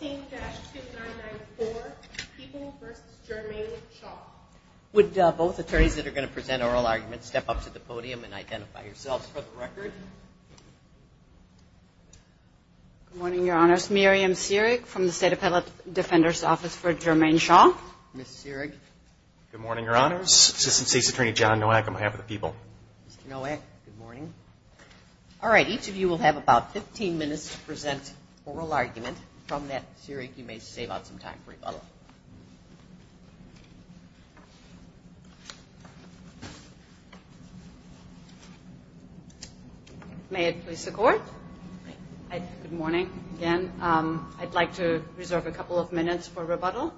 15-2994 People v. Jermaine Shaw Would both attorneys that are going to present oral arguments step up to the podium and identify yourselves for the record. Good morning, Your Honors. Miriam Seerig from the State Appellate Defender's Office for Jermaine Shaw. Ms. Seerig. Good morning, Your Honors. Assistant State's Attorney John Nowak on behalf of the People. Mr. Nowak, good morning. All right, each of you will have about 15 minutes to present oral argument. From that, Seerig, you may save up some time for rebuttal. May it please the Court? Good morning again. I'd like to reserve a couple of minutes for rebuttal.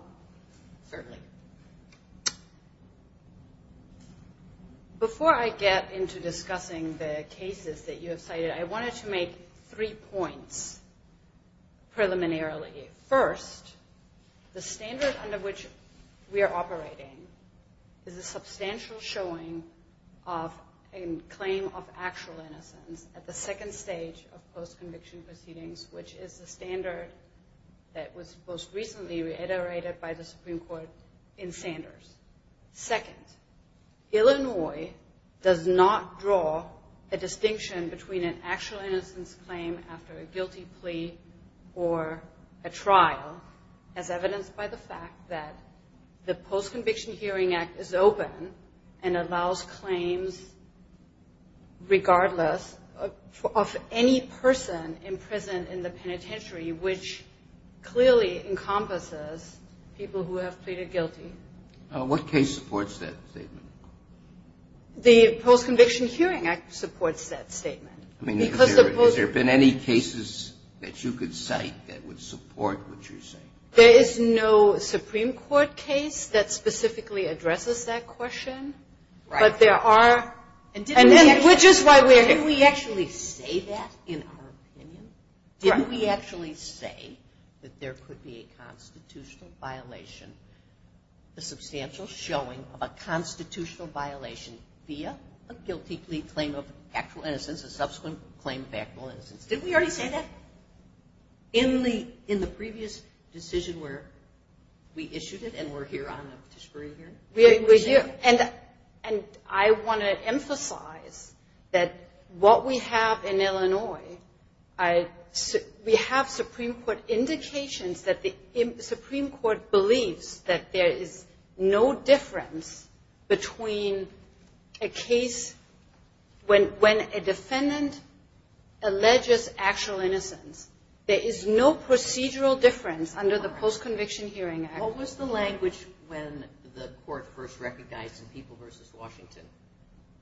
Certainly. Before I get into discussing the cases that you have cited, I wanted to make three points. Preliminarily, first, the standard under which we are operating is a substantial showing of a claim of actual innocence at the second stage of post-conviction proceedings, which is the standard that was most recently reiterated by the Supreme Court in Sanders. Second, Illinois does not draw a distinction between an actual innocence claim after a guilty plea or a trial, as evidenced by the fact that the Post-Conviction Hearing Act is open and allows claims regardless of any person in prison in the penitentiary, which clearly encompasses people who have pleaded guilty. What case supports that statement? The Post-Conviction Hearing Act supports that statement. Has there been any cases that you could cite that would support what you're saying? There is no Supreme Court case that specifically addresses that question, but there are... Which is why we're here. Didn't we actually say that in our opinion? Didn't we actually say that there could be a substantial showing of a constitutional violation via a guilty plea claim of actual innocence, a subsequent claim of actual innocence? Didn't we already say that? In the previous decision where we issued it and we're here on a disparity hearing? We're here. And I want to emphasize that what we have in Illinois, we have Supreme Court indications that the Supreme Court believes that there is no difference between a case when a defendant alleges actual innocence. There is no procedural difference under the Post-Conviction Hearing Act. What was the language when the court first recognized in People v. Washington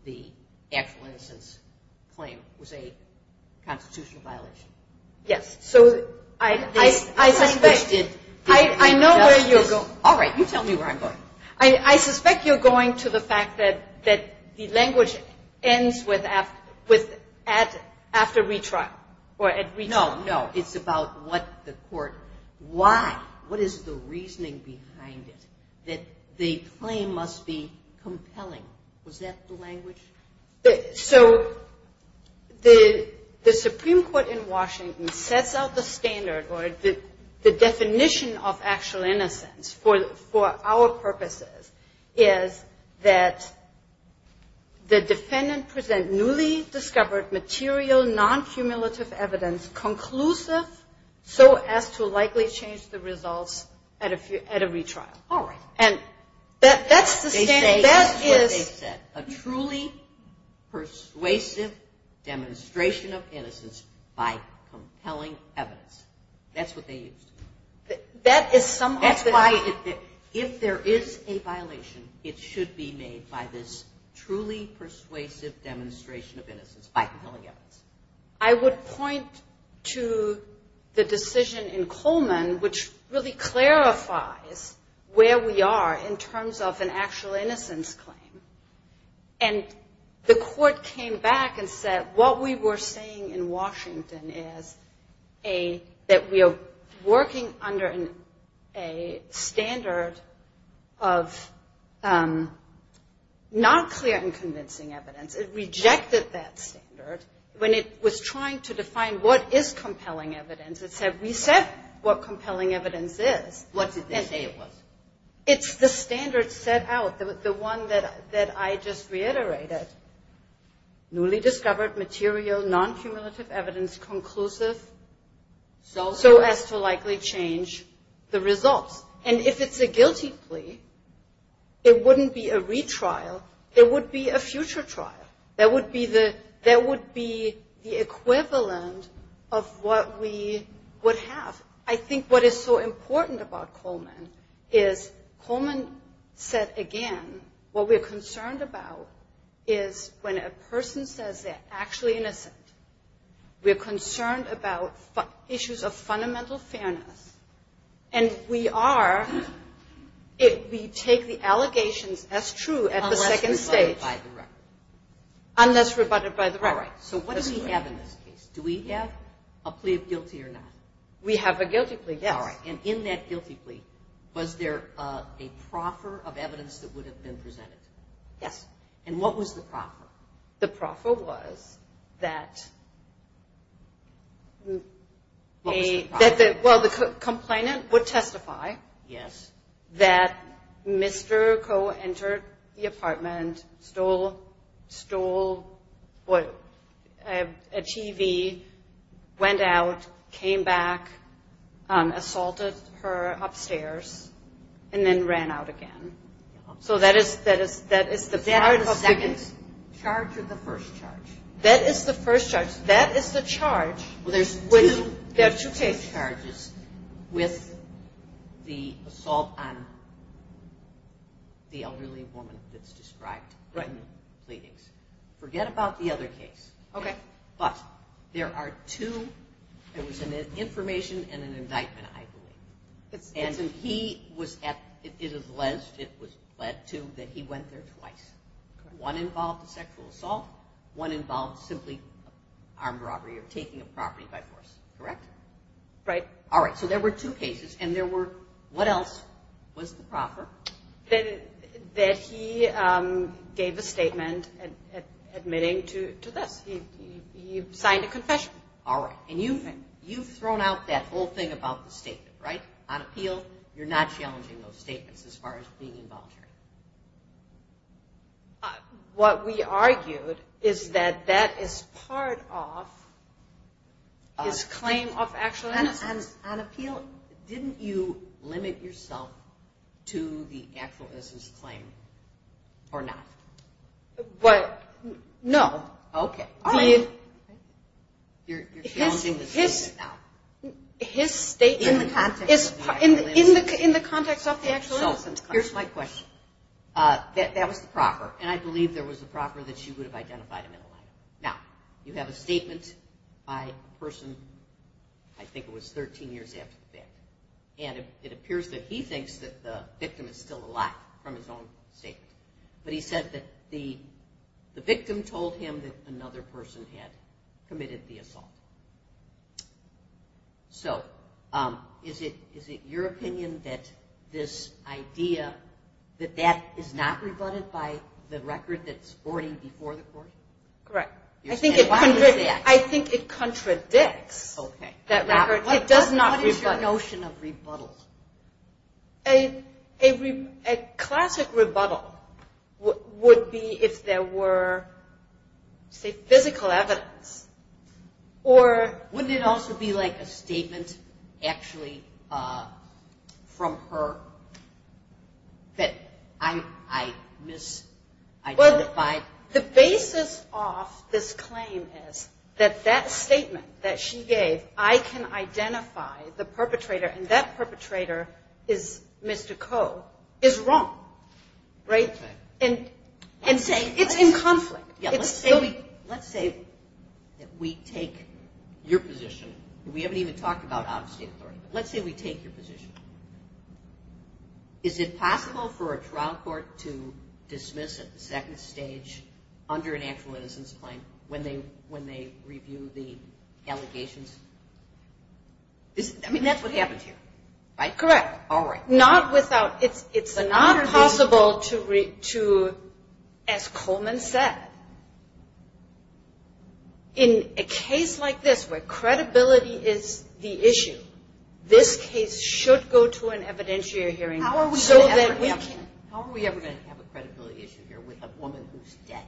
the actual innocence claim was a constitutional violation? Yes. So I suspect... The language did... I know where you're going. All right. You tell me where I'm going. I suspect you're going to the fact that the language ends after retrial or at retrial. No, no. It's about what the court... Why? What is the reasoning behind it? The claim must be compelling. Was that the language? So the Supreme Court in Washington sets out the standard or the definition of actual innocence for our purposes is that the defendant present newly discovered material non-cumulative evidence conclusive so as to likely change the results at a retrial. All right. And that's the... They say that's what they said. A truly persuasive demonstration of innocence by compelling evidence. That's what they used. That is somewhat... That's why if there is a violation, it should be made by this truly persuasive demonstration of innocence by compelling evidence. I would point to the decision in Coleman which really clarifies where we are in terms of an actual innocence claim. And the court came back and said what we were saying in Washington is that we are working under a standard of not clear and convincing evidence. It rejected that standard when it was trying to define what is compelling evidence. It said we said what compelling evidence is. What did they say it was? It's the standard set out, the one that I just reiterated, newly discovered material non-cumulative evidence conclusive so as to likely change the results. And if it's a guilty plea, it wouldn't be a retrial. It would be a future trial. That would be the equivalent of what we would have. I think what is so important about Coleman is Coleman said again what we're concerned about is when a person says they're actually innocent. We're concerned about issues of fundamental fairness. And we are if we take the allegations as true at the second stage. Unless rebutted by the record. Unless rebutted by the record. So what do we have in this case? Do we have a plea of guilty or not? We have a guilty plea, yes. And in that guilty plea was there a proffer of evidence that would have been presented? Yes. And what was the proffer? The proffer was that a well the complainant would testify. Yes. That Mr. Coe entered the apartment, stole a TV, went out, came back, assaulted her upstairs, and then ran out again. So that is the charge of the first charge. That is the first charge. That is the charge. There's two case charges with the assault on the elderly woman that's described in the pleadings. Forget about the other case. Okay. But there are two. There was an information and an indictment, I believe. And he was at it was led to that he went there twice. One involved a sexual assault. One involved simply armed robbery or taking a property by force. Correct? Right. All right. So there were two cases. And there were what else was the proffer? That he gave a statement admitting to this. He signed a confession. All right. And you've thrown out that whole thing about the statement, right? You're not challenging those statements as far as being involuntary. What we argued is that that is part of his claim of actual innocence. On appeal, didn't you limit yourself to the actual innocence claim or not? What? No. Okay. You're challenging the statement now. His statement is in the context of the actual innocence? Here's my question. That was the proffer. And I believe there was a proffer that she would have identified him in a letter. Now, you have a statement by a person, I think it was 13 years after the fact. And it appears that he thinks that the victim is still alive from his own statement. But he said that the victim told him that another person had committed the assault. So is it your opinion that this idea, that that is not rebutted by the record that's already before the court? Correct. I think it contradicts that record. It does not rebut. What is your notion of rebuttals? A classic rebuttal would be if there were, say, physical evidence. Or wouldn't it also be like a statement actually from her that I misidentified? The basis of this claim is that that statement that she gave, I can identify the perpetrator and that perpetrator is Mr. Coe, is wrong, right? And it's in conflict. Yeah, let's say that we take your position. We haven't even talked about out-of-state authority. Let's say we take your position. Is it possible for a trial court to dismiss at the second stage under an actual innocence claim when they review the allegations? I mean, that's what happened here, right? Correct. All right. Not without, it's not possible to, as Coleman said, in a case like this where credibility is the issue, this case should go to an evidentiary hearing so that we can... How are we ever going to have a credibility issue here with a woman who's dead?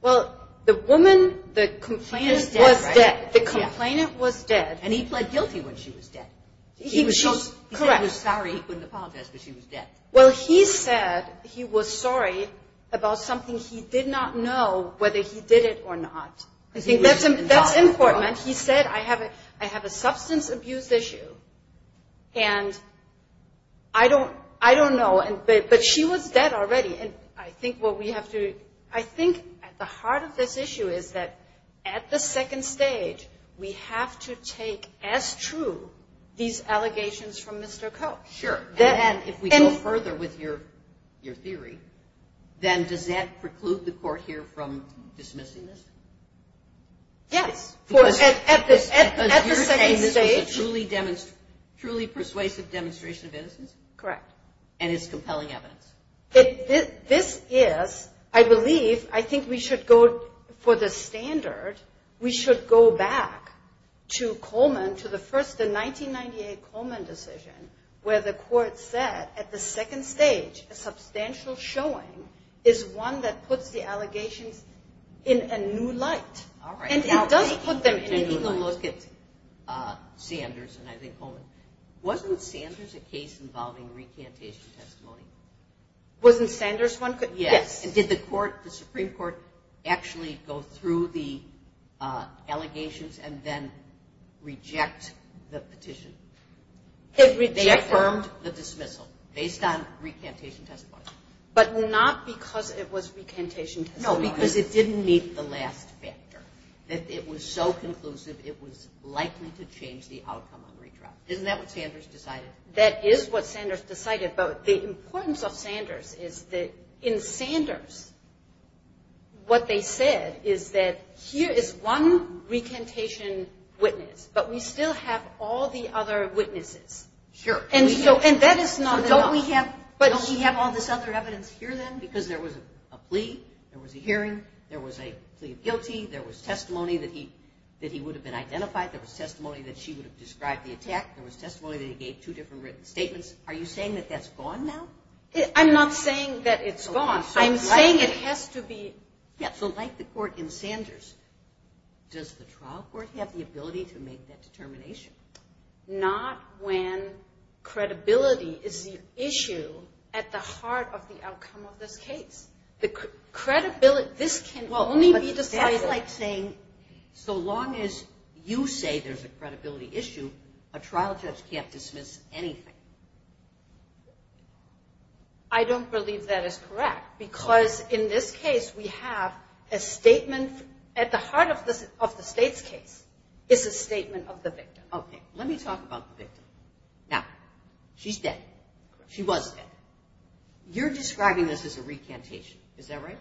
Well, the woman, the complainant was dead. She is dead, right? The complainant was dead. And he pled guilty when she was dead. Correct. He said he was sorry. He couldn't apologize because she was dead. Well, he said he was sorry about something he did not know whether he did it or not. That's important. He said, I have a substance abuse issue. And I don't know. But she was dead already. And I think what we have to... I think at the heart of this issue is that at the second stage, we have to take as true these allegations from Mr. Koch. Sure. And if we go further with your theory, then does that preclude the court here from dismissing this? Yes. Because at the second stage... Because you're saying this was a truly persuasive demonstration of innocence? Correct. And it's compelling evidence. This is, I believe, I think we should go for the standard, we should go back to Coleman, to the first, the 1998 Coleman decision, where the court said at the second stage, a substantial showing is one that puts the allegations in a new light. All right. And it does put them in a new light. And if you look at Sanders and I think Coleman, wasn't Sanders a case involving recantation testimony? Wasn't Sanders one? Yes. Did the Supreme Court actually go through the allegations and then reject the petition? It rejected. They affirmed the dismissal based on recantation testimony. But not because it was recantation testimony. No, because it didn't meet the last factor. That it was so conclusive, it was likely to change the outcome on retrial. Isn't that what Sanders decided? That is what Sanders decided. But the importance of Sanders is that in Sanders, what they said is that here is one recantation witness, but we still have all the other witnesses. Sure. And that is not enough. So don't we have all this other evidence here then? Because there was a plea, there was a hearing, there was a plea of guilty, there was testimony that he would have been identified, there was testimony that she would have described the attack, there was testimony that he gave two different written statements. Are you saying that that's gone now? I'm not saying that it's gone. I'm saying it has to be. Yeah, so like the court in Sanders, does the trial court have the ability to make that determination? Not when credibility is the issue at the heart of the outcome of this case. The credibility, this can only be decided. Well, that's like saying, so long as you say there's a credibility issue, a trial judge can't dismiss anything. I don't believe that is correct because in this case we have a statement at the heart of the state's case is a statement of the victim. Okay. Let me talk about the victim. Now, she's dead. She was dead. You're describing this as a recantation. Is that right?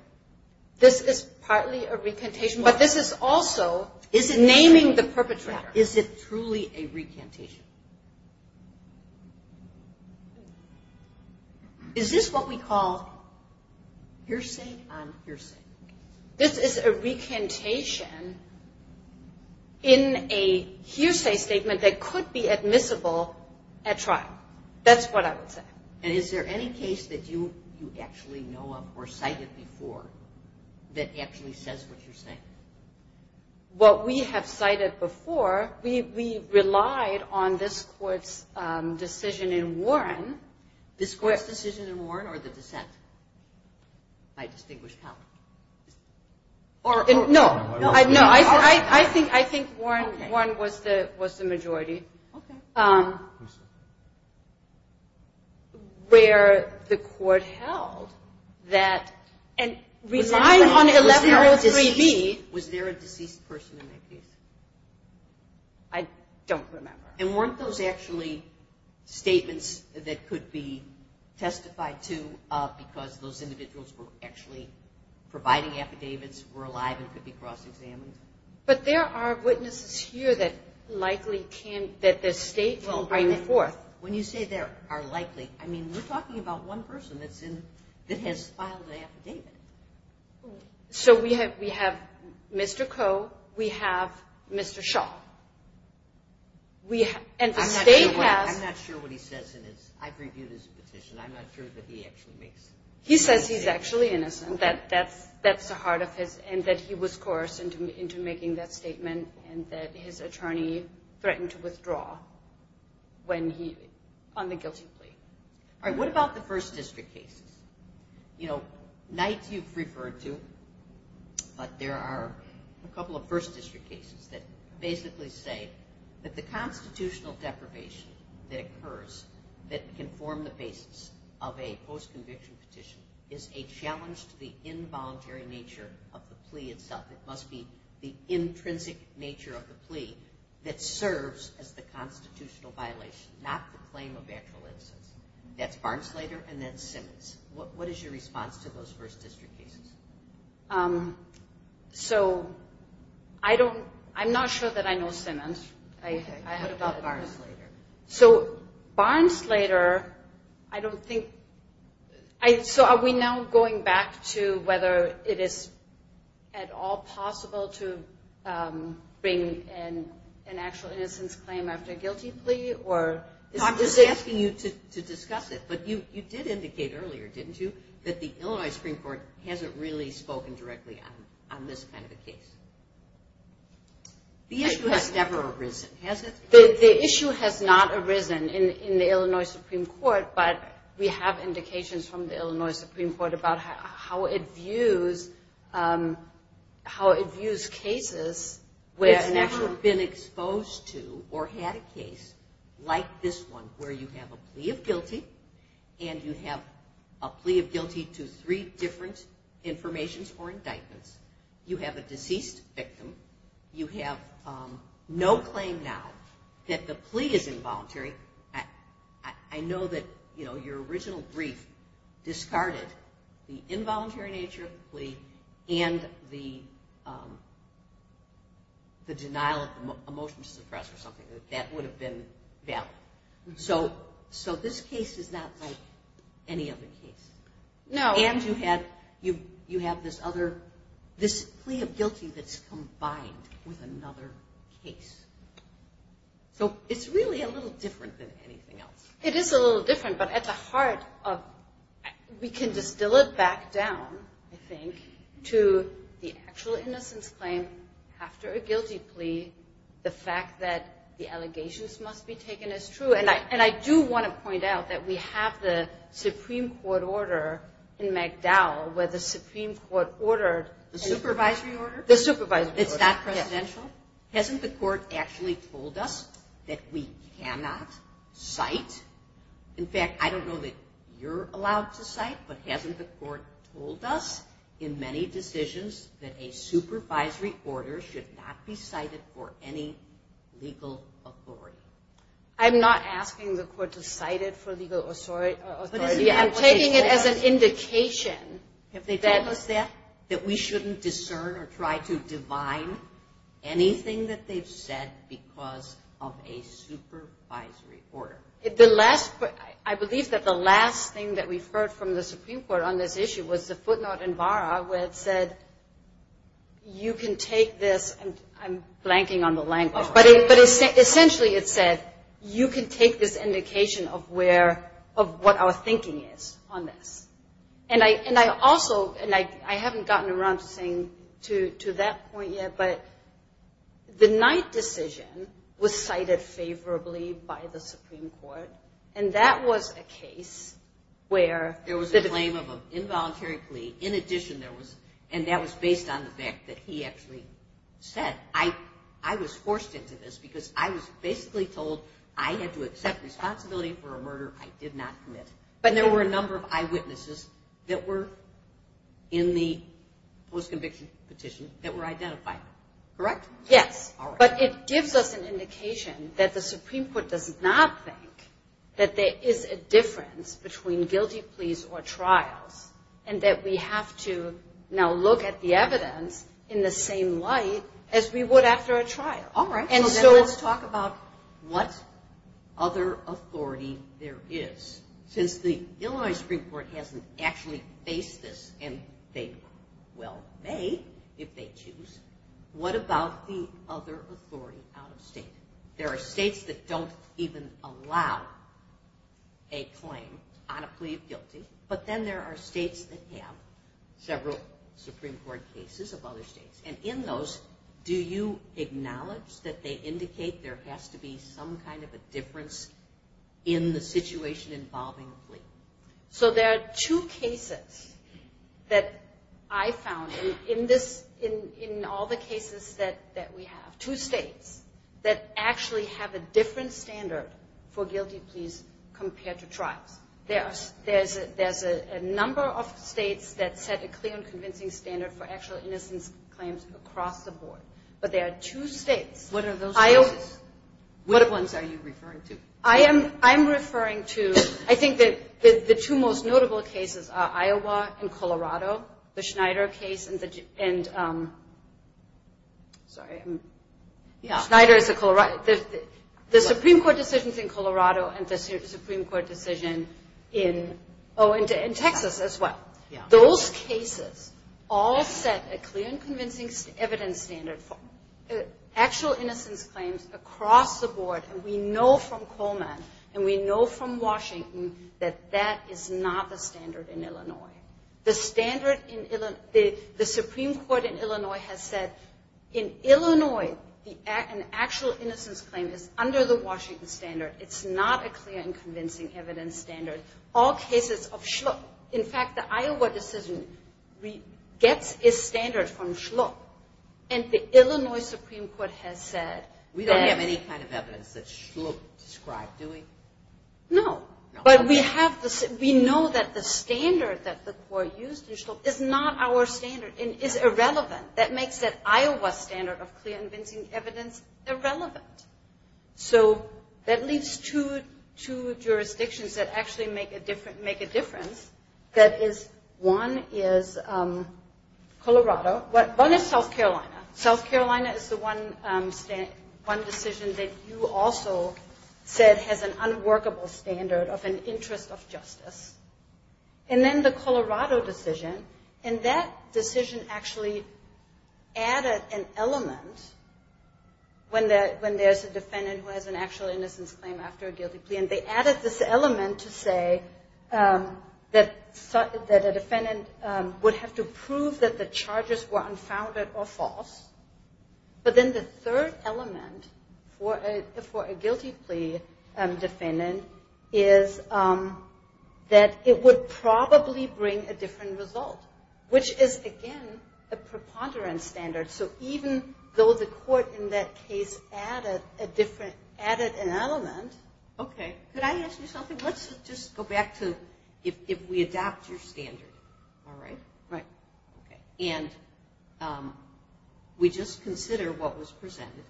This is partly a recantation, but this is also naming the perpetrator. Is it truly a recantation? Is this what we call hearsay on hearsay? This is a recantation in a hearsay statement that could be admissible at trial. That's what I would say. And is there any case that you actually know of or cited before that actually says what you're saying? What we have cited before, we relied on this court's decision in Warren. This court's decision in Warren or the dissent by distinguished power? No, I think Warren was the majority. Okay. Where the court held that and relied on 1103B. Was there a deceased person in that case? I don't remember. And weren't those actually statements that could be testified to because those individuals were actually providing affidavits, were alive, and could be cross-examined? But there are witnesses here that likely can, that the state can bring forth. When you say there are likely, I mean, we're talking about one person that has filed an affidavit. So we have Mr. Coe. We have Mr. Shaw. And the state has- I'm not sure what he says in his, I've reviewed his petition. I'm not sure that he actually makes- He says he's actually innocent. That's the heart of his, and that he was coerced into making that statement and that his attorney threatened to withdraw when he, on the guilty plea. All right. What about the first district cases? You know, Knight you've referred to, but there are a couple of first district cases that basically say that the constitutional deprivation that occurs, that can form the basis of a post-conviction petition, is a challenge to the involuntary nature of the plea itself. It must be the intrinsic nature of the plea that serves as the constitutional violation, not the claim of actual innocence. That's Barnsleder and that's Simmons. What is your response to those first district cases? So I don't, I'm not sure that I know Simmons. I heard about Barnsleder. So Barnsleder, I don't think, so are we now going back to whether it is at all possible to bring an actual innocence claim after a guilty plea or- I'm just asking you to discuss it, but you did indicate earlier, didn't you? That the Illinois Supreme Court hasn't really spoken directly on this kind of a case. The issue has never arisen, has it? The issue has not arisen in the Illinois Supreme Court, but we have indications from the Illinois Supreme Court about how it views cases where- It's never been exposed to or had a case like this one where you have a plea of guilty and you have a plea of guilty to three different informations or indictments. You have a deceased victim. You have no claim now that the plea is involuntary. I know that, you know, your original brief discarded the involuntary nature of the plea and the denial of a motion to suppress or something. That would have been valid. So this case is not like any other case. No. And you have this other- this plea of guilty that's combined with another case. So it's really a little different than anything else. It is a little different, but at the heart of- we can distill it back down, I think, to the actual innocence claim after a guilty plea. The fact that the allegations must be taken as true, and I do want to point out that we in MacDowell where the Supreme Court ordered- The supervisory order? The supervisory order. It's not presidential? Hasn't the court actually told us that we cannot cite? In fact, I don't know that you're allowed to cite, but hasn't the court told us in many decisions that a supervisory order should not be cited for any legal authority? I'm not asking the court to cite it for legal authority. I'm taking it as an indication that- Have they told us that? That we shouldn't discern or try to divine anything that they've said because of a supervisory order? The last- I believe that the last thing that we've heard from the Supreme Court on this issue was the footnote in VARA where it said, you can take this- and I'm blanking on the language, but essentially it said, you can take this indication of where- of what our thinking is on this. And I also- and I haven't gotten around to saying to that point yet, but the Knight decision was cited favorably by the Supreme Court, and that was a case where- There was a claim of an involuntary plea. In addition, there was- and that was based on the fact that he actually said, I was forced into this because I was basically told I had to accept responsibility for a murder I did not commit. And there were a number of eyewitnesses that were in the post-conviction petition that were identified. Correct? Yes, but it gives us an indication that the Supreme Court does not think that there is a difference between guilty pleas or trials, and that we have to now look at the evidence in the same light as we would after a trial. So let's talk about what other authority there is. Since the Illinois Supreme Court hasn't actually faced this, and they well may if they choose, what about the other authority out of state? There are states that don't even allow a claim on a plea of guilty, but then there are states that have several Supreme Court cases of other states, and in those, do you acknowledge that they indicate there has to be some kind of a difference in the situation involving a plea? So there are two cases that I found in this- in all the cases that we have, two states that actually have a different standard for guilty pleas compared to trials. There's a number of states that set a clear and convincing standard for actual innocence claims across the board, but there are two states- What are those states? What ones are you referring to? I am referring to- I think that the two most notable cases are Iowa and Colorado, the Schneider case and the- sorry, Schneider is a Colorado- the Supreme Court decisions in Colorado and the Supreme Court decision in- oh, in Texas as well. Those cases all set a clear and convincing evidence standard for actual innocence claims across the board, and we know from Coleman and we know from Washington that that is not the standard in Illinois. The standard in- the Supreme Court in Illinois has said, in Illinois, an actual innocence claim is under the Washington standard. It's not a clear and convincing evidence standard. All cases of Shluck- in fact, the Iowa decision gets its standard from Shluck, and the Illinois Supreme Court has said- We don't have any kind of evidence that Shluck described, do we? No, but we have the- we know that the standard that the court used in Shluck is not our standard and is irrelevant. That makes that Iowa standard of clear and convincing evidence irrelevant. So, that leaves two jurisdictions that actually make a difference. That is, one is Colorado. One is South Carolina. South Carolina is the one decision that you also said has an unworkable standard of an interest of justice, and then the Colorado decision, and that decision actually added an element when there's a defendant who has an actual innocence claim after a guilty plea, and they added this element to say that a defendant would have to prove that the charges were unfounded or false, but then the third element for a guilty plea defendant is that it would probably bring a different result, which is, again, a preponderance standard. So, even though the court in that case added an element- Okay, could I ask you something? Let's just go back to if we adopt your standard, all right? Right. And we just consider what was presented,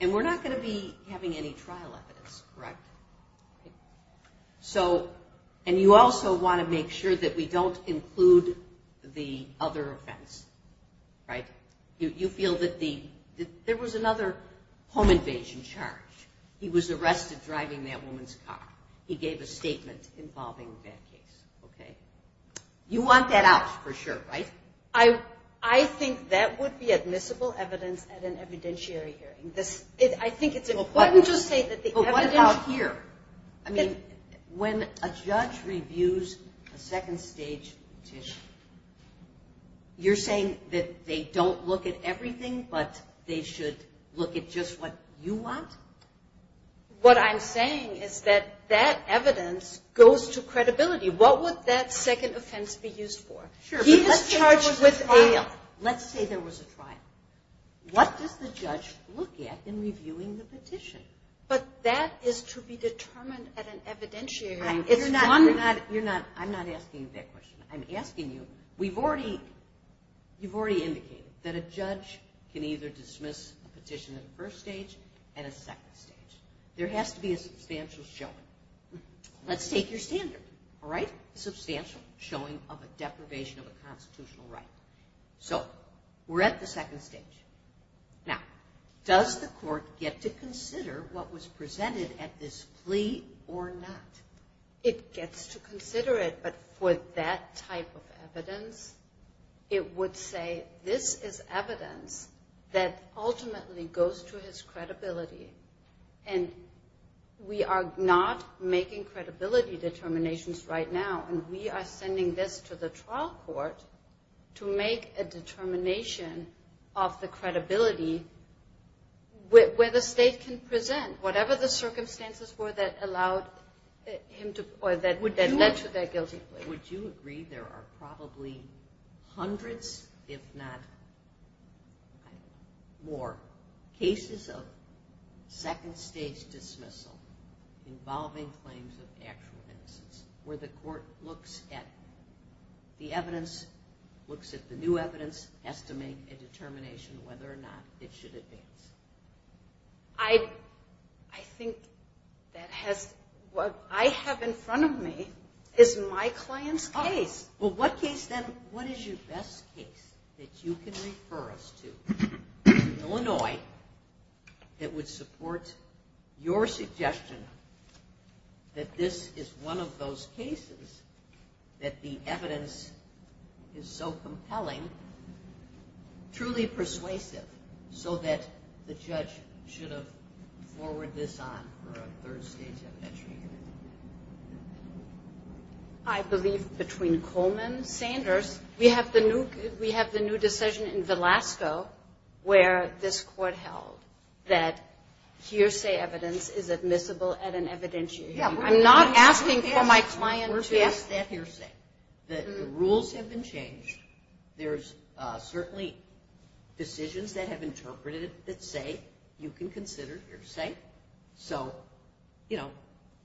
and we're not going to be having any trial evidence, correct? So, and you also want to make sure that we don't include the other offense, right? You feel that there was another home invasion charge. He was arrested driving that woman's car. He gave a statement involving that case, okay? You want that out for sure, right? I think that would be admissible evidence at an evidentiary hearing. I think it's important to say that the evidence- But what about here? I mean, when a judge reviews a second stage petition, you're saying that they don't look at everything, but they should look at just what you want? What I'm saying is that that evidence goes to credibility. What would that second offense be used for? Sure, but let's say there was a trial. Let's say there was a trial. What does the judge look at in reviewing the petition? But that is to be determined at an evidentiary hearing. You're not, you're not, I'm not asking you that question. I'm asking you, we've already, you've already indicated that a judge can either dismiss a petition in the first stage and a second stage. There has to be a substantial showing. Let's take your standard, all right? Substantial showing of a deprivation of a constitutional right. So we're at the second stage. Now, does the court get to consider what was presented at this plea or not? It gets to consider it, but for that type of evidence, it would say, this is evidence that ultimately goes to his credibility. And we are not making credibility determinations right now. And we are sending this to the trial court to make a determination of the credibility where the state can present. Whatever the circumstances were that allowed him to, or that led to that guilty plea. Would you agree there are probably hundreds, if not more, cases of second stage dismissal involving claims of actual innocence where the court looks at the evidence, looks at the new evidence, has to make a determination whether or not it should advance? I think that has, what I have in front of me is my client's case. Well, what case then, what is your best case that you can refer us to in Illinois that would support your suggestion that this is one of those cases that the evidence is so compelling, truly persuasive, so that the judge should have forwarded this on for a third stage of entry here? I believe between Coleman, Sanders, we have the new decision in Velasco where this court held that hearsay evidence is admissible at an evidentiary. I'm not asking for my client to- That hearsay, the rules have been changed. There's certainly decisions that have interpreted that say you can consider hearsay. So, you know,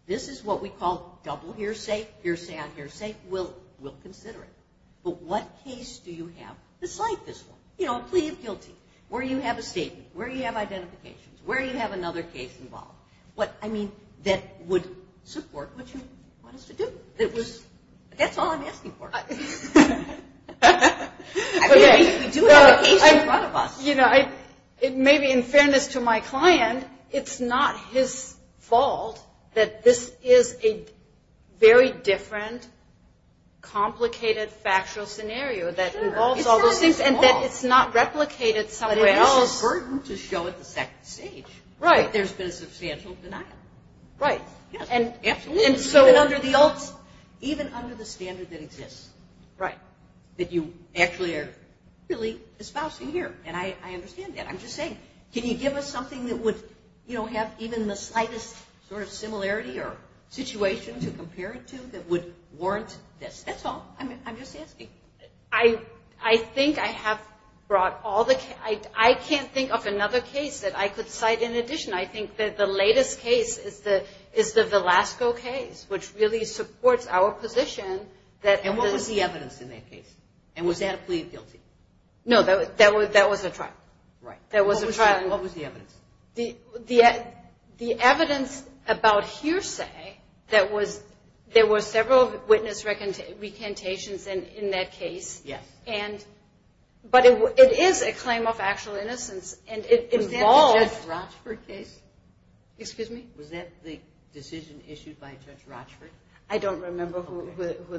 this is what we call double hearsay, hearsay on hearsay. We'll consider it. But what case do you have besides this one? You know, a plea of guilty, where you have a statement, where you have identifications, where you have another case involved. What, I mean, that would support what you want us to do. That's all I'm asking for. I mean, we do have a case in front of us. You know, maybe in fairness to my client, it's not his fault that this is a very different, complicated, factual scenario that involves all those things. And that it's not replicated somewhere else. It's a burden to show at the second stage. Right. That there's been substantial denial. Right. And even under the standard that exists. Right. That you actually are really espousing here. And I understand that. I'm just saying, can you give us something that would, you know, have even the slightest sort of similarity or situation to compare it to that would warrant this? That's all I'm just asking. I think I have brought all the, I can't think of another case that I could cite in addition. I think that the latest case is the Velasco case, which really supports our position. And what was the evidence in that case? And was that a plea of guilty? No, that was a trial. Right. That was a trial. What was the evidence? The evidence about hearsay, there were several witness recantations in that case. Yes. But it is a claim of actual innocence. Was that the Judge Rochford case? Excuse me? Was that the decision issued by Judge Rochford? I don't remember who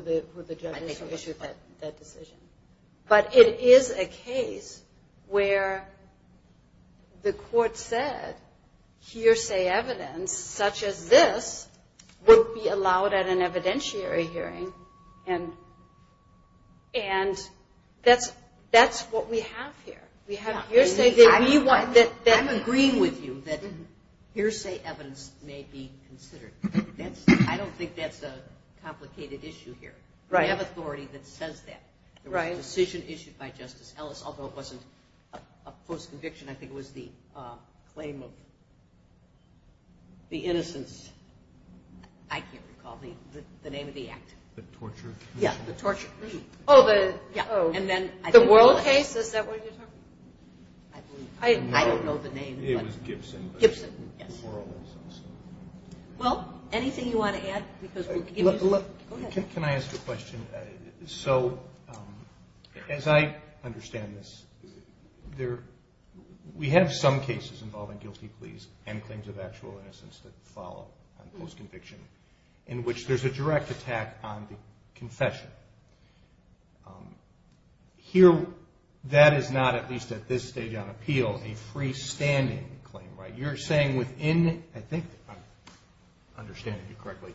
the judge issued that decision. But it is a case where the court said hearsay evidence such as this would be allowed at an evidentiary hearing. And that's what we have here. We have hearsay. I'm agreeing with you that hearsay evidence may be considered. I don't think that's a complicated issue here. We have authority that says that. There was a decision issued by Justice Ellis, although it wasn't a false conviction. I think it was the claim of the innocence. I can't recall the name of the act. The torture case? Yes, the torture case. Oh, the world case? Is that what you're talking about? I don't know the name. It was Gibson. Well, anything you want to add? Can I ask a question? So as I understand this, we have some cases involving guilty pleas and claims of actual innocence that follow on post-conviction in which there's a direct attack on the confession. Here, that is not, at least at this stage on appeal, a freestanding claim, right? You're saying within, I think I'm understanding you correctly,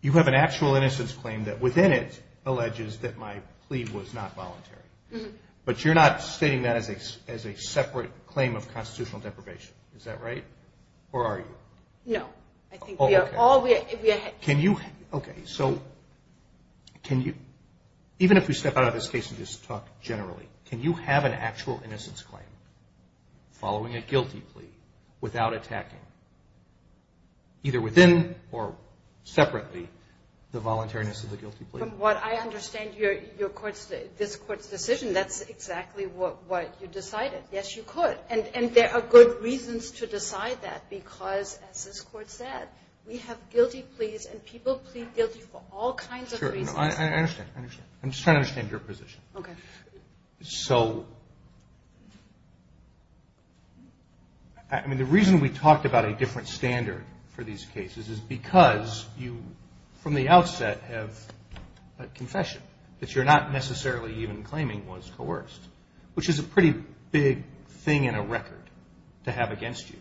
you have an actual innocence claim that within it alleges that my plea was not voluntary, but you're not stating that as a separate claim of constitutional deprivation. Is that right? Or are you? No, I think we are all, we are. Can you, okay, so can you explain that? Even if we step out of this case and just talk generally, can you have an actual innocence claim following a guilty plea without attacking, either within or separately, the voluntariness of the guilty plea? From what I understand your court's, this court's decision, that's exactly what you decided. Yes, you could. And there are good reasons to decide that because, as this court said, we have guilty pleas and people plead guilty for all kinds of reasons. I understand, I understand. I'm just trying to understand your position. Okay. So, I mean, the reason we talked about a different standard for these cases is because you, from the outset, have a confession that you're not necessarily even claiming was coerced, which is a pretty big thing in a record to have against you.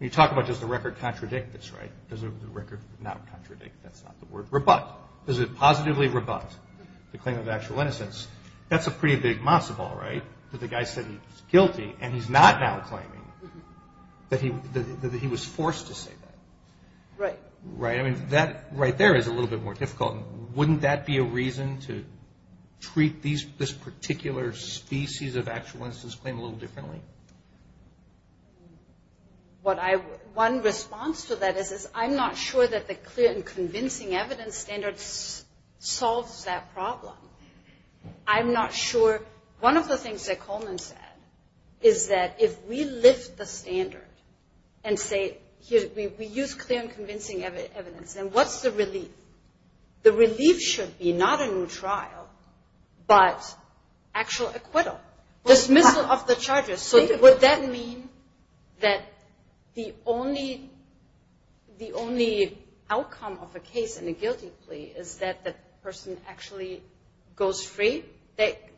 You talk about does the record contradict this, right? Does the record not contradict, that's not the word, rebut. Does it positively rebut the claim of actual innocence? That's a pretty big massive ball, right? That the guy said he was guilty and he's not now claiming that he was forced to say that. Right. Right. I mean, that right there is a little bit more difficult. Wouldn't that be a reason to treat this particular species of actual innocence claim a little differently? One response to that is I'm not sure that the clear and convincing evidence standard solves that problem. I'm not sure. One of the things that Coleman said is that if we lift the standard and say we use clear and convincing evidence, then what's the relief? The relief should be not a new trial, but actual acquittal, dismissal of the charges. Would that mean that the only outcome of a case in a guilty plea is that the person actually goes free?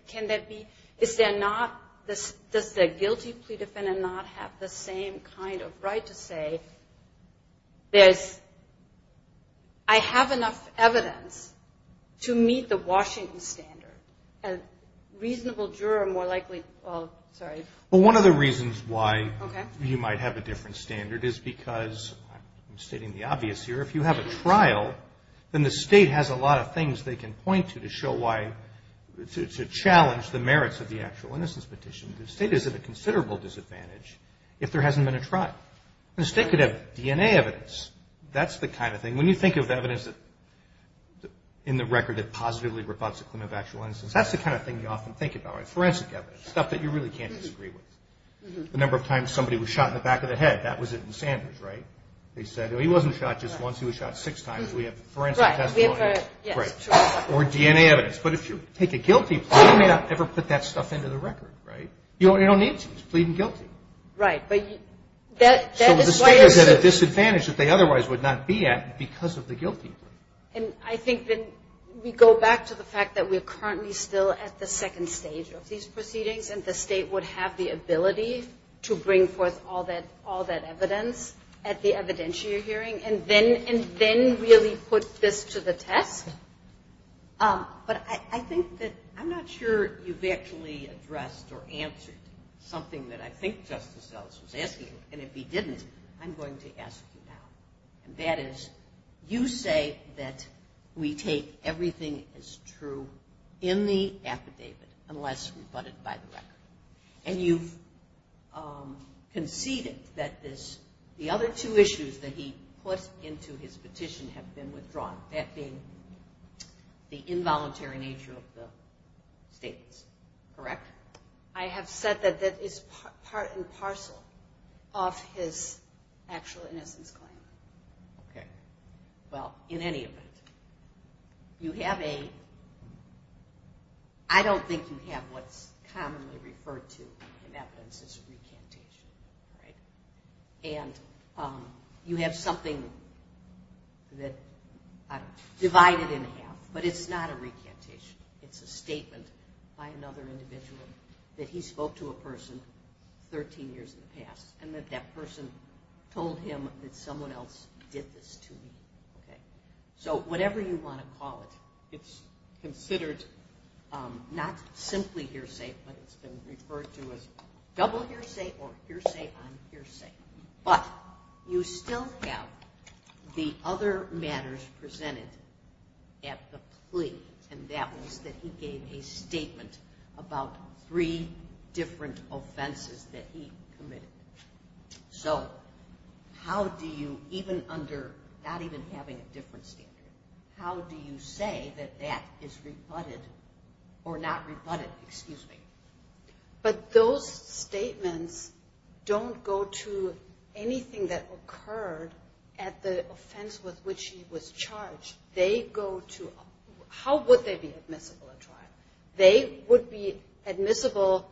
Can that be? Does the guilty plea defendant not have the same kind of right to say, I have enough evidence to meet the Washington standard? A reasonable juror more likely, well, sorry. Well, one of the reasons why you might have a different standard is because, I'm stating the obvious here, if you have a trial, then the state has a lot of things they can point to to show why, to challenge the merits of the actual innocence petition. The state is at a considerable disadvantage if there hasn't been a trial. The state could have DNA evidence. That's the kind of thing. When you think of evidence in the record that positively rebutts a claim of actual innocence, that's the kind of thing you often think about. Forensic evidence. Stuff that you really can't disagree with. The number of times somebody was shot in the back of the head. That was it in Sanders, right? They said, he wasn't shot just once. He was shot six times. We have forensic testimonies or DNA evidence. But if you take a guilty plea, you may not ever put that stuff into the record, right? You don't need to. It's pleading guilty. Right. But that is why it's a... Because of the guilty plea. And I think then we go back to the fact that we're currently still at the second stage of these proceedings. And the state would have the ability to bring forth all that evidence at the evidentiary hearing and then really put this to the test. But I think that... I'm not sure you've actually addressed or answered something that I think Justice Ellis was asking. And if he didn't, I'm going to ask you now. And that is, you say that we take everything as true in the affidavit unless rebutted by the record. And you've conceded that the other two issues that he puts into his petition have been withdrawn, that being the involuntary nature of the statements. Correct? I have said that that is part and parcel of his actual innocence claim. Okay. Well, in any event, you have a... I don't think you have what's commonly referred to in evidence as a recantation, right? And you have something that, I don't know, divided in half. But it's not a recantation. It's a statement by another individual that he spoke to a person 13 years in the past and that that person told him that someone else did this to me, okay? So whatever you want to call it, it's considered not simply hearsay, but it's been referred to as double hearsay or hearsay on hearsay. But you still have the other matters presented at the plea, and that was that he gave a statement about three different offenses that he committed. So how do you, even under not even having a different standard, how do you say that that is rebutted or not rebutted? Excuse me. But those statements don't go to anything that occurred at the offense with which he was charged. They go to... How would they be admissible at trial? They would be admissible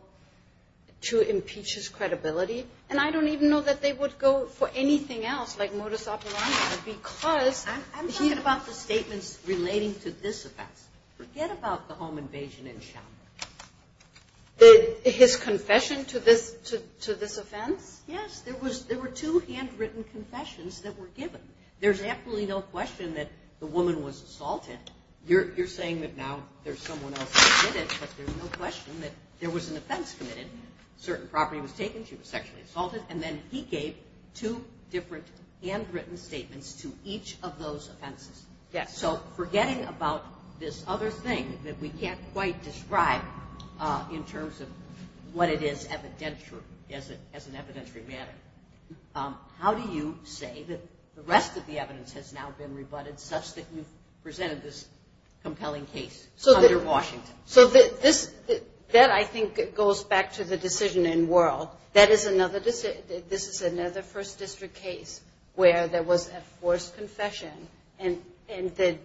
to impeach his credibility. And I don't even know that they would go for anything else, like modus operandi, because... I'm talking about the statements relating to this offense. Forget about the home invasion in China. His confession to this offense? Yes, there were two handwritten confessions that were given. There's absolutely no question that the woman was assaulted. You're saying that now there's someone else who did it, but there's no question that there was an offense committed. Certain property was taken, she was sexually assaulted, and then he gave two different handwritten statements to each of those offenses. Yes. So forgetting about this other thing that we can't quite describe in terms of what it is evidential as an evidentiary matter, how do you say that the rest of the evidence has now been rebutted such that you've presented this compelling case under Washington? So that, I think, goes back to the decision in World. That is another first district case where there was a forced confession, and that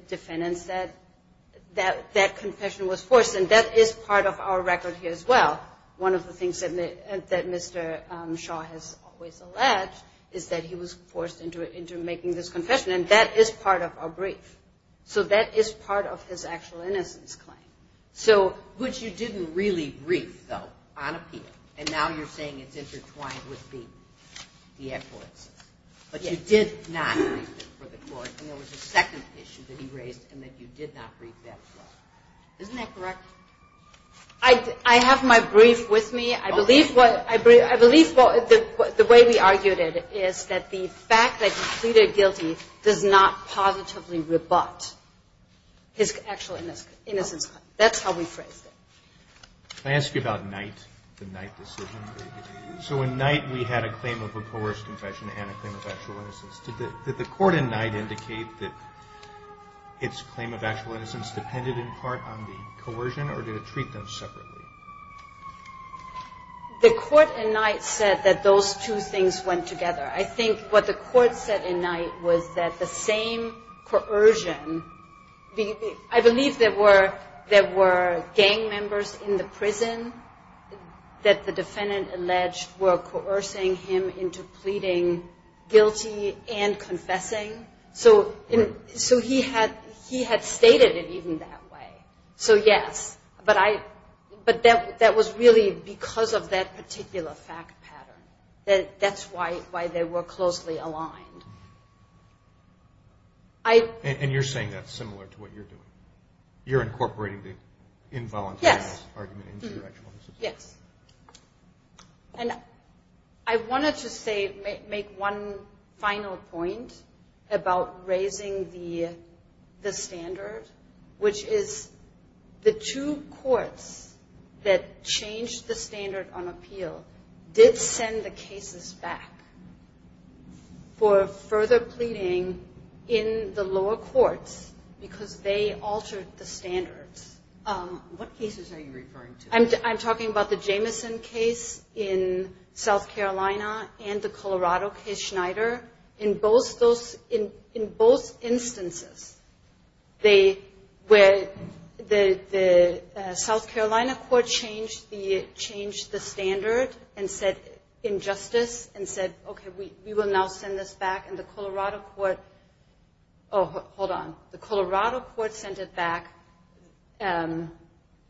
confession was forced, and that is part of our record here as well. One of the things that Mr. Shaw has always alleged is that he was forced into making this confession, and that is part of our brief. So that is part of his actual innocence claim. Which you didn't really brief, though, on appeal, and now you're saying it's intertwined with the acquittances, but you did not brief it for the court, and there was a second issue that he raised in that you did not brief that as well. Isn't that correct? I have my brief with me. I believe the way we argued it is that the fact that he pleaded guilty does not positively rebut his actual innocence claim. That's how we phrased it. Can I ask you about Knight, the Knight decision? So in Knight, we had a claim of a coerced confession and a claim of actual innocence. Did the court in Knight indicate that its claim of actual innocence depended in part on the coercion, or did it treat them separately? The court in Knight said that those two things went together. I think what the court said in Knight was that the same coercion, I believe there were gang members in the prison that the defendant alleged were coercing him into pleading guilty and confessing, so he had stated it even that way. So yes, but that was really because of that particular fact pattern. That's why they were closely aligned. And you're saying that's similar to what you're doing. You're incorporating the involuntary argument into your actual innocence? Yes. And I wanted to make one final point about raising the standard, which is the two courts that changed the standard on appeal did send the cases back for further pleading in the lower courts because they altered the standards. What cases are you referring to? I'm talking about the Jamison case in South Carolina and the Colorado case, Schneider. In both instances, the South Carolina court changed the standard in justice and said, okay, we will now send this back, and the Colorado court, oh, hold on. The Colorado court sent it back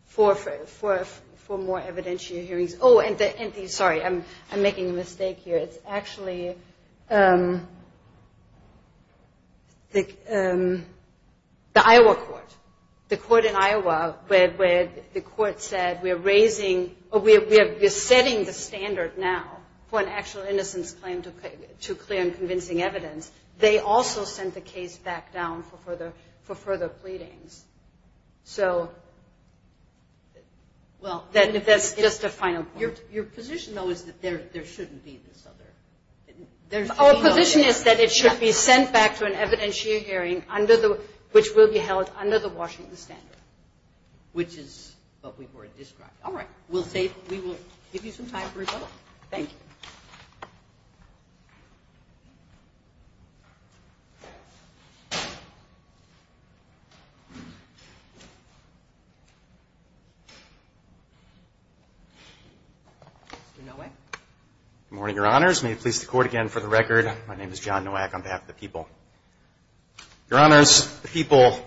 for more evidentiary hearings. Oh, and sorry, I'm making a mistake here. It's actually the Iowa court, the court in Iowa where the court said we're setting the standard now for an actual innocence claim to clear and convincing evidence. They also sent the case back down for further pleadings, so that's just a final point. Your position, though, is that there shouldn't be this other? Our position is that it should be sent back to an evidentiary hearing, which will be held under the Washington standard. Which is what we've already described. All right. We'll save. We will give you some time for rebuttal. Thank you. Mr. Nowak? Good morning, Your Honors. May it please the court again for the record. My name is John Nowak on behalf of the people. Your Honors, the people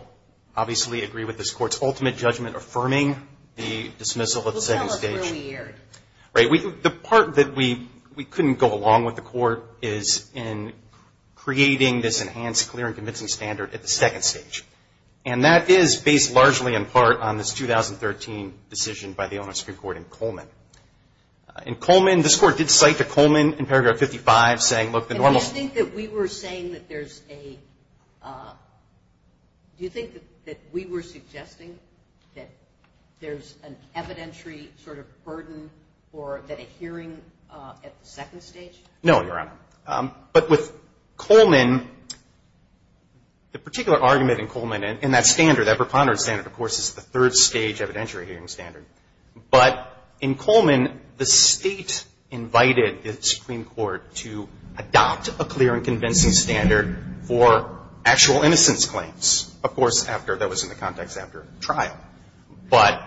obviously agree with this court's ultimate judgment affirming the dismissal at the second stage. Well, that looks really weird. Right. The part that we couldn't go along with the court is in creating this enhanced clear and convincing standard at the second stage, and that is based largely in part on this 2013 decision by the Owner's Supreme Court in Coleman. This court did cite the Coleman in paragraph 55 saying, look, the normal. And do you think that we were saying that there's a, do you think that we were suggesting that there's an evidentiary sort of burden or that a hearing at the second stage? No, Your Honor. But with Coleman, the particular argument in Coleman and that standard, that preponderance standard, of course, is the third stage evidentiary hearing standard. But in Coleman, the state invited the Supreme Court to adopt a clear and convincing standard for actual innocence claims. Of course, that was in the context after trial. But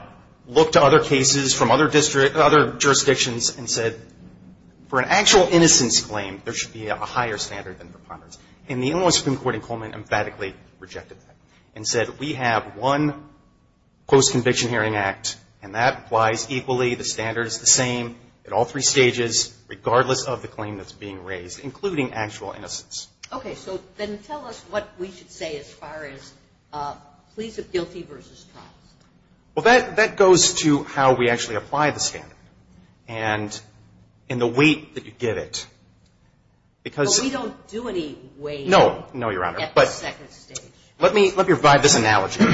look to other cases from other jurisdictions and said, for an actual innocence claim, there should be a higher standard than preponderance. And the Owner's Supreme Court in Coleman emphatically rejected that and said, we have one post-conviction hearing act, and that applies equally, the standard is the same at all three stages, regardless of the claim that's being raised, including actual innocence. Okay. So then tell us what we should say as far as pleas of guilty versus trials. Well, that goes to how we actually apply the standard. And in the weight that you give it, because But we don't do any weight No. No, Your Honor. At the second stage. Let me provide this analogy,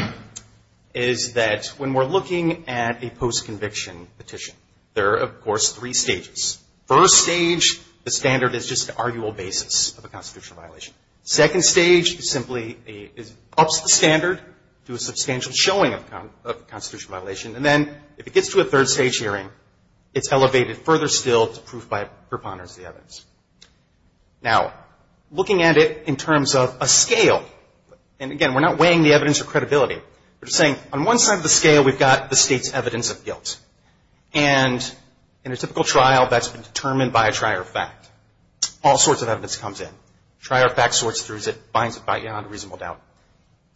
is that when we're looking at a post-conviction petition, there are, of course, three stages. First stage, the standard is just the arguable basis of a constitutional violation. Second stage simply ups the standard to a substantial showing of a constitutional violation. And then if it gets to a third stage hearing, it's elevated further still to proof by preponderance of the evidence. Now, looking at it in terms of a scale, and again, we're not weighing the evidence or credibility. We're just saying, on one side of the scale, we've got the state's evidence of guilt. And in a typical trial, that's been determined by a trier of fact. All sorts of evidence comes in. Trier of fact sorts through as it finds it beyond reasonable doubt.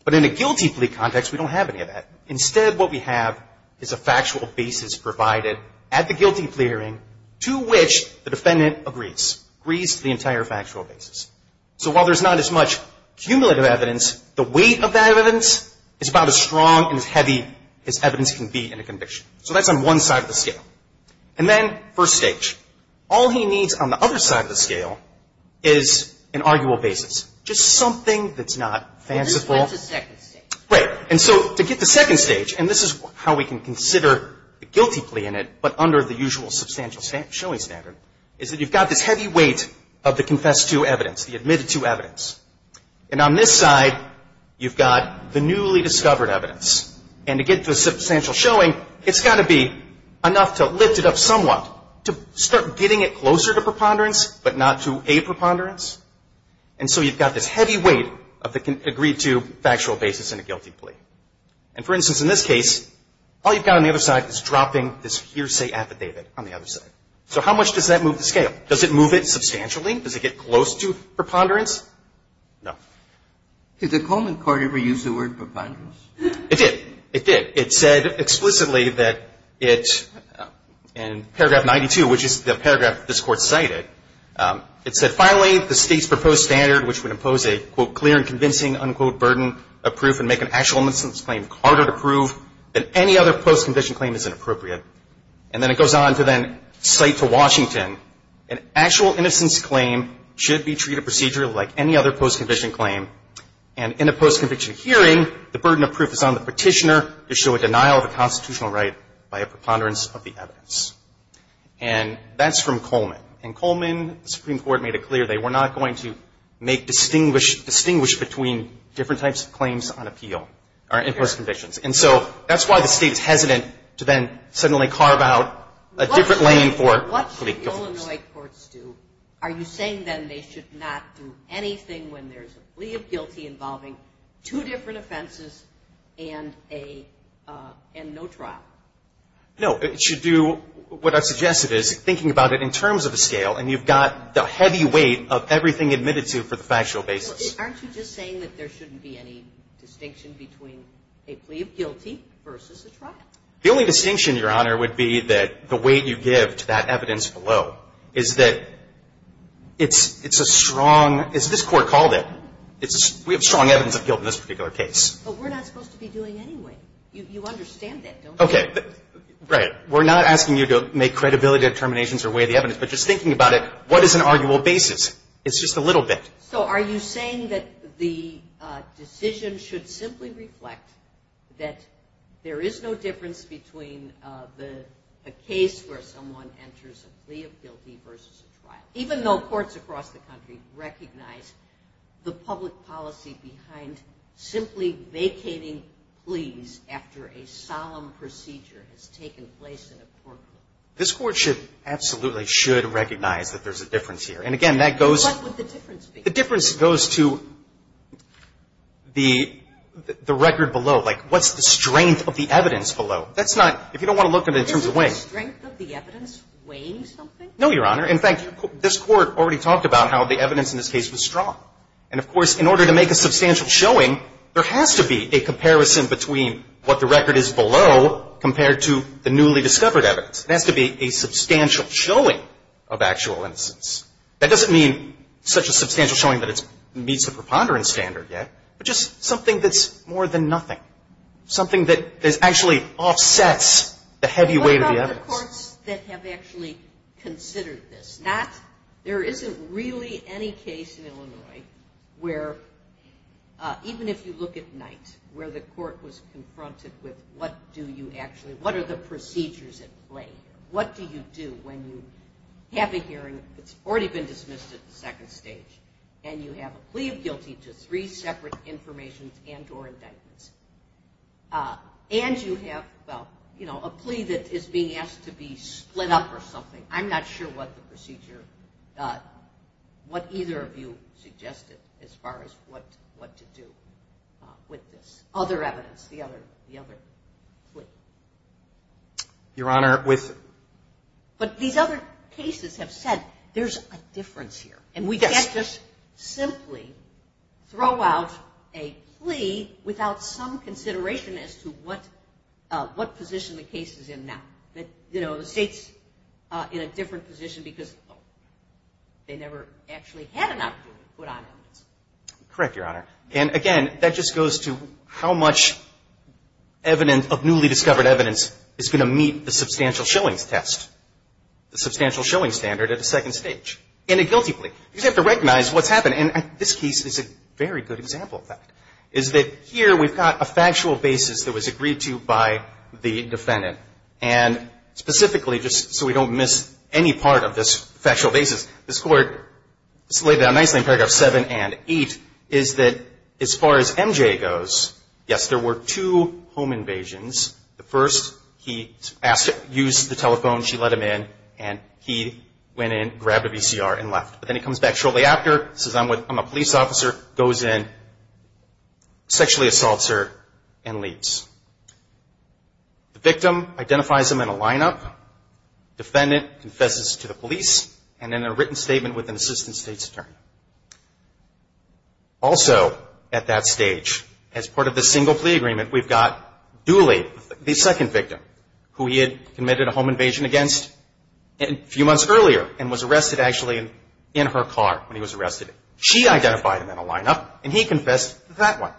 But in a guilty plea context, we don't have any of that. Instead, what we have is a factual basis provided at the guilty plea hearing to which the defendant agrees. Agrees to the entire factual basis. So while there's not as much cumulative evidence, the weight of that evidence is about as strong and as heavy as evidence can be in a conviction. So that's on one side of the scale. And then first stage. All he needs on the other side of the scale is an arguable basis. Just something that's not fanciful. But this is when it's the second stage. Right. And so to get to second stage, and this is how we can consider the guilty plea in it, but under the usual substantial showing standard, is that you've got this heavy weight of the confessed to evidence, the admitted to evidence. And on this side, you've got the newly discovered evidence. And to get to a substantial showing, it's got to be enough to lift it up somewhat to start getting it closer to preponderance, but not to a preponderance. And so you've got this heavy weight of the agreed to factual basis in a guilty plea. And for instance, in this case, all you've got on the other side is dropping this hearsay affidavit on the other side. So how much does that move the scale? Does it move it substantially? Does it get close to preponderance? No. Did the Coleman Court ever use the word preponderance? It did. It did. It said explicitly that it, in paragraph 92, which is the paragraph this Court cited, it said, finally, the State's proposed standard, which would impose a, quote, clear and convincing, unquote, burden of proof and make an actual innocence claim harder to prove than any other post-condition claim is inappropriate. And then it goes on to then cite to Washington, an actual innocence claim should be treated procedurally like any other post-conviction claim. And in a post-conviction hearing, the burden of proof is on the petitioner to show a denial of a constitutional right by a preponderance of the evidence. And that's from Coleman. And Coleman, the Supreme Court made it clear they were not going to make distinguished between different types of claims on appeal in post-convictions. And so that's why the State is hesitant to then suddenly carve out a different lane for a plea of guilt. What should the Illinois courts do? Are you saying then they should not do anything when there's a plea of guilty involving two different offenses and no trial? No. It should do what I've suggested is thinking about it in terms of a scale. And you've got the heavy weight of everything admitted to for the factual basis. Aren't you just saying that there shouldn't be any distinction between a plea of guilty versus a trial? The only distinction, Your Honor, would be that the weight you give to that evidence below is that it's a strong, as this Court called it, we have strong evidence of guilt in this particular case. But we're not supposed to be doing any weight. You understand that, don't you? Okay. Right. We're not asking you to make credibility determinations or weigh the evidence. But just thinking about it, what is an arguable basis? It's just a little bit. So are you saying that the decision should simply reflect that there is no difference between a case where someone enters a plea of guilty versus a trial, even though courts across the country recognize the public policy behind simply vacating pleas after a solemn procedure has taken place in a court court? This Court should absolutely should recognize that there's a difference here. And again, that goes... What would the difference be? The difference goes to the record below. Like, what's the strength of the evidence below? That's not – if you don't want to look at it in terms of weight... Isn't the strength of the evidence weighing something? No, Your Honor. In fact, this Court already talked about how the evidence in this case was strong. And, of course, in order to make a substantial showing, there has to be a comparison between what the record is below compared to the newly discovered evidence. There has to be a substantial showing of actual innocence. That doesn't mean such a substantial showing that it meets the preponderance standard yet, but just something that's more than nothing, something that actually offsets the heavy weight of the evidence. What about the courts that have actually considered this? Not – there isn't really any case in Illinois where – even if you look at Knight, where the court was confronted with what do you actually – what are the procedures at play here? What do you do when you have a hearing that's already been dismissed at the second stage, and you have a plea of guilty to three separate informations and or indictments? And you have, well, you know, a plea that is being asked to be split up or something. I'm not sure what the procedure – what either of you suggested as far as what to do with this. Other evidence, the other plea. Your Honor, with – But these other cases have said there's a difference here. And we can't just simply throw out a plea without some consideration as to what position the case is in now, that, you know, the State's in a different position because they never actually had an opportunity to put on evidence. Correct, Your Honor. And again, that just goes to how much evidence of newly discovered evidence is going to meet the substantial showings test, the substantial showings standard at the second stage. And a guilty plea. You just have to recognize what's happened. And this case is a very good example of that, is that here we've got a factual basis that was agreed to by the defendant. And specifically, just so we don't miss any part of this factual basis, this Court has laid down nicely in paragraphs 7 and 8, is that as far as MJ goes, yes, there were two home invasions. The first, he asked – used the telephone, she let him in, and he went in, grabbed a VCR, and left. But then he comes back shortly after, says I'm a police officer, goes in, sexually assaults her, and leaves. The victim identifies him in a lineup. Defendant confesses to the police. And then a written statement with an assistant state's attorney. Also, at that stage, as part of the single plea agreement, we've got Dooley, the second victim, who he had committed a home invasion against a few months earlier, and was arrested actually in her car when he was arrested. She identified him in a lineup, and he confessed to that one.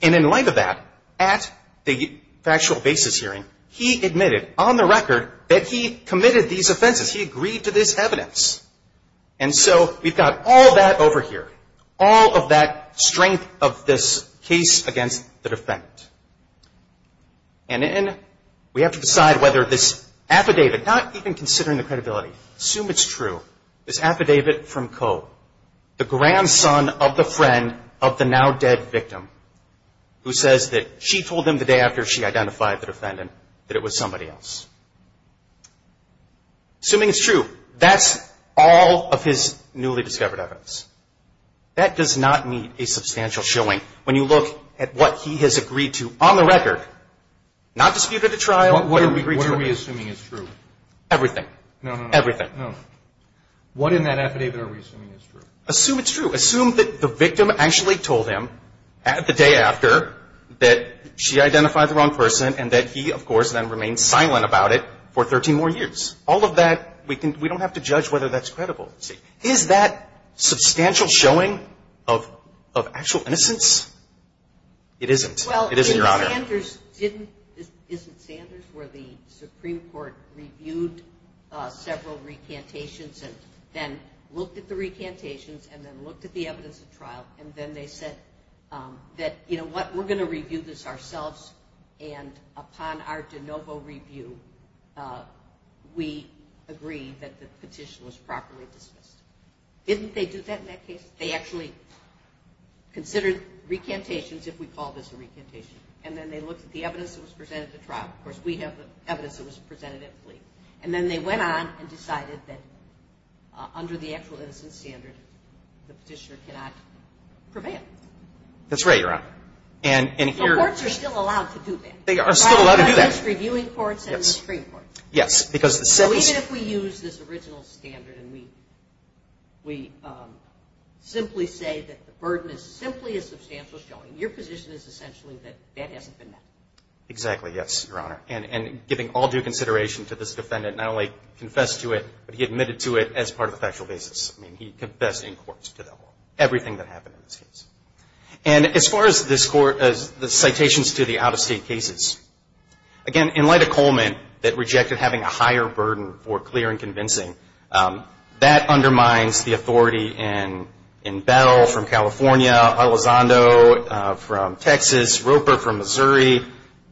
And in light of that, at the factual basis hearing, he admitted on the record that he committed these offenses. He agreed to this evidence. And so we've got all that over here. All of that strength of this case against the defendant. And then we have to decide whether this affidavit, not even considering the credibility, assume it's true, this affidavit from Koh, the grandson of the friend of the now-dead victim, who says that she told him the day after she identified the defendant that it was somebody else. Assuming it's true, that's all of his newly discovered evidence. That does not meet a substantial showing when you look at what he has agreed to on the record. Not disputed at trial. What are we assuming is true? Everything. Everything. What in that affidavit are we assuming is true? Assume it's true. Assume that the victim actually told him the day after that she identified the and that he, of course, then remained silent about it for 13 more years. All of that, we don't have to judge whether that's credible. Is that substantial showing of actual innocence? It isn't. It isn't, Your Honor. Well, isn't Sanders where the Supreme Court reviewed several recantations and then looked at the recantations and then looked at the evidence at trial and then they said that, you know what, we're going to review this ourselves and upon our de novo review, we agree that the petition was properly dismissed. Didn't they do that in that case? They actually considered recantations if we call this a recantation. And then they looked at the evidence that was presented at trial. Of course, we have the evidence that was presented at plea. And then they went on and decided that under the actual innocence standard, the petitioner cannot prevail. That's right, Your Honor. And courts are still allowed to do that. They are still allowed to do that. By both the reviewing courts and the Supreme Court. Yes. Because even if we use this original standard and we simply say that the burden is simply a substantial showing, your position is essentially that that hasn't been met. Exactly. Yes, Your Honor. And giving all due consideration to this defendant not only confessed to it, but he admitted to it as part of the factual basis. He confessed in court to everything that happened in this case. And as far as the citations to the out-of-state cases, again, in light of Coleman that rejected having a higher burden for clear and convincing, that undermines the authority in Bell from California, Elizondo from Texas, Roper from Missouri,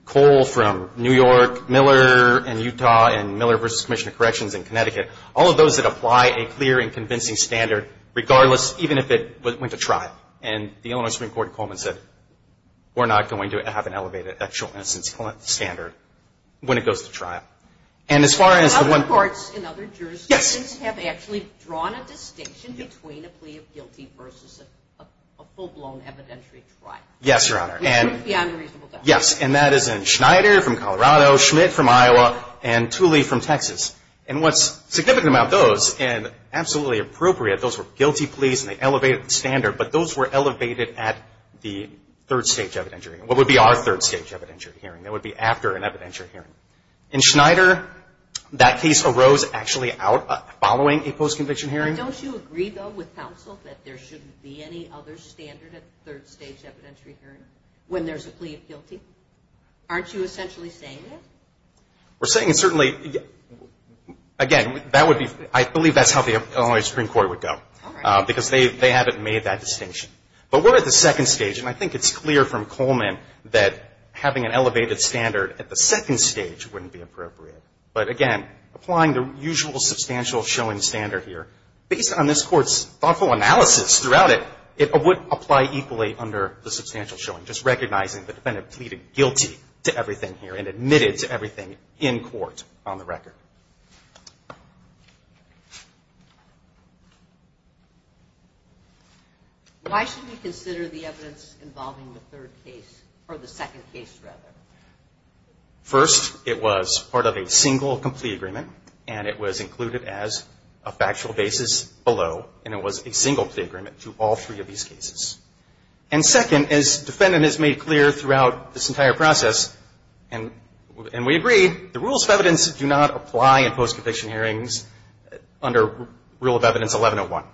Cole from New York, Miller in Utah, and Miller v. Commissioner of Corrections in Connecticut. All of those that apply a clear and convincing standard, regardless, even if it went to trial. And the Illinois Supreme Court in Coleman said, we're not going to have an elevated actual innocence standard when it goes to trial. And as far as the one- Other courts and other jurisdictions have actually drawn a distinction between a plea of guilty versus a full-blown evidentiary trial. Yes, Your Honor. With proof beyond a reasonable doubt. Yes. And that is in Schneider from Colorado, Schmidt from Iowa, and Tooley from Texas. And what's significant about those, and absolutely appropriate, those were guilty pleas and they elevated the standard, but those were elevated at the third-stage evidentiary. And what would be our third-stage evidentiary hearing? That would be after an evidentiary hearing. In Schneider, that case arose actually out following a post-conviction hearing. Don't you agree, though, with counsel that there shouldn't be any other standard at the third-stage evidentiary hearing when there's a plea of guilty? Aren't you essentially saying that? We're saying certainly, again, that would be, I believe that's how the Illinois Supreme Court would go. All right. Because they haven't made that distinction. But we're at the second stage, and I think it's clear from Coleman that having an elevated standard at the second stage wouldn't be appropriate. But again, applying the usual substantial showing standard here, based on this Court's thoughtful analysis throughout it, it would apply equally under the substantial showing, just recognizing the defendant pleaded guilty to everything here and admitted to everything in court on the record. Why should we consider the evidence involving the third case? Or the second case, rather? First, it was part of a single complete agreement, and it was included as a factual basis below. And it was a single plea agreement to all three of these cases. And second, as the defendant has made clear throughout this entire process, and we agree, the rules of evidence do not apply in post-conviction hearings under Rule of Evidence 1101.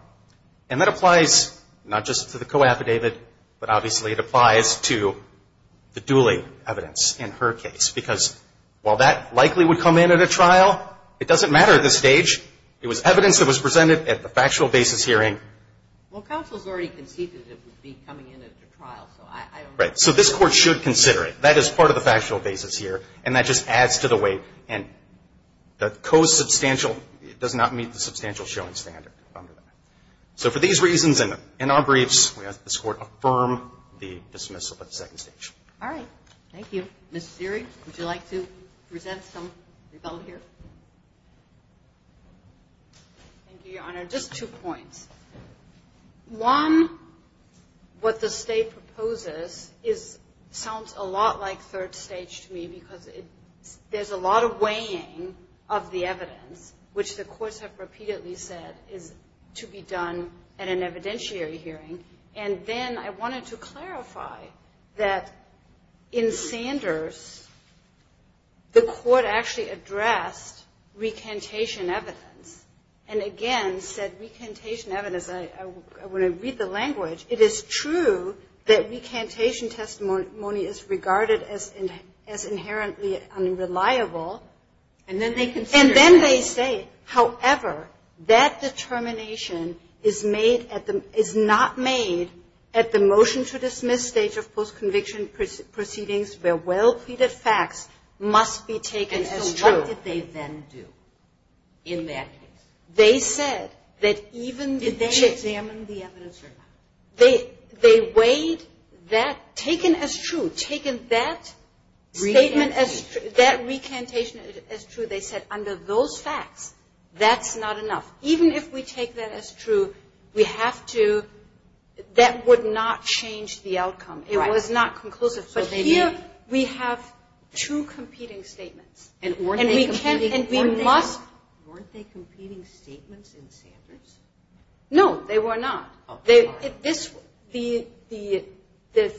And that applies not just to the co-affidavit, but obviously it applies to the duly evidence in her case. Because while that likely would come in at a trial, it doesn't matter at this stage. It was evidence that was presented at the factual basis hearing. Well, counsel's already conceded it would be coming in at a trial, so I don't know. Right. So this Court should consider it. That is part of the factual basis here. And that just adds to the way. And the co-substantial does not meet the substantial showing standard under that. So for these reasons and our briefs, we ask this Court affirm the dismissal at the second stage. All right. Thank you. Ms. Seery, would you like to present some rebuttal here? Thank you, Your Honor. Just two points. One, what the State proposes sounds a lot like third stage to me because there's a lot of weighing of the evidence, which the courts have repeatedly said is to be done at an evidentiary hearing. And then I wanted to clarify that in Sanders, the Court actually addressed recantation evidence. And again, said recantation evidence, when I read the language, it is true that recantation testimony is regarded as inherently unreliable. And then they consider. And then they say, however, that determination is not made at the motion to dismiss stage of post-conviction proceedings where well-pleaded facts must be taken as true. What did they then do in that case? They said that even. Did they examine the evidence or not? They weighed that taken as true. Taken that statement as true. That recantation as true. They said under those facts, that's not enough. Even if we take that as true, we have to. That would not change the outcome. It was not conclusive. But here we have two competing statements. And weren't they competing statements in Sanders? No, they were not. The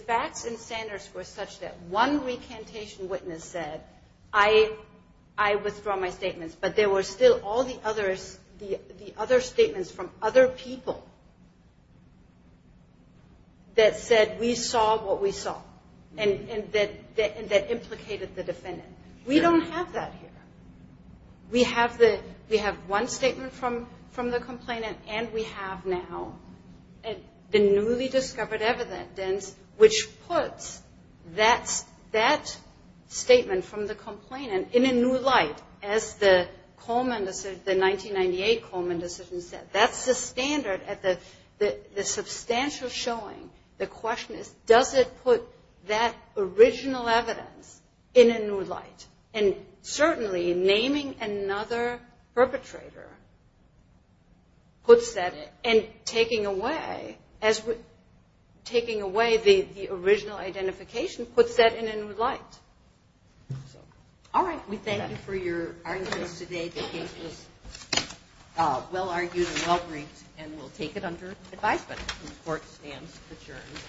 facts in Sanders were such that one recantation witness said, I withdraw my statements. But there were still all the other statements from other people that said we saw what we saw. And that implicated the defendant. We don't have that here. We have one statement from the complainant. And we have now the newly discovered evidence which puts that statement from the complainant in a new light, as the 1998 Coleman decision said. That's the standard at the substantial showing. The question is, does it put that original evidence in a new light? And certainly, naming another perpetrator puts that. And taking away the original identification puts that in a new light. All right. We thank you for your arguments today. The case was well argued and well briefed. And we'll take it under advisement. The court stands adjourned.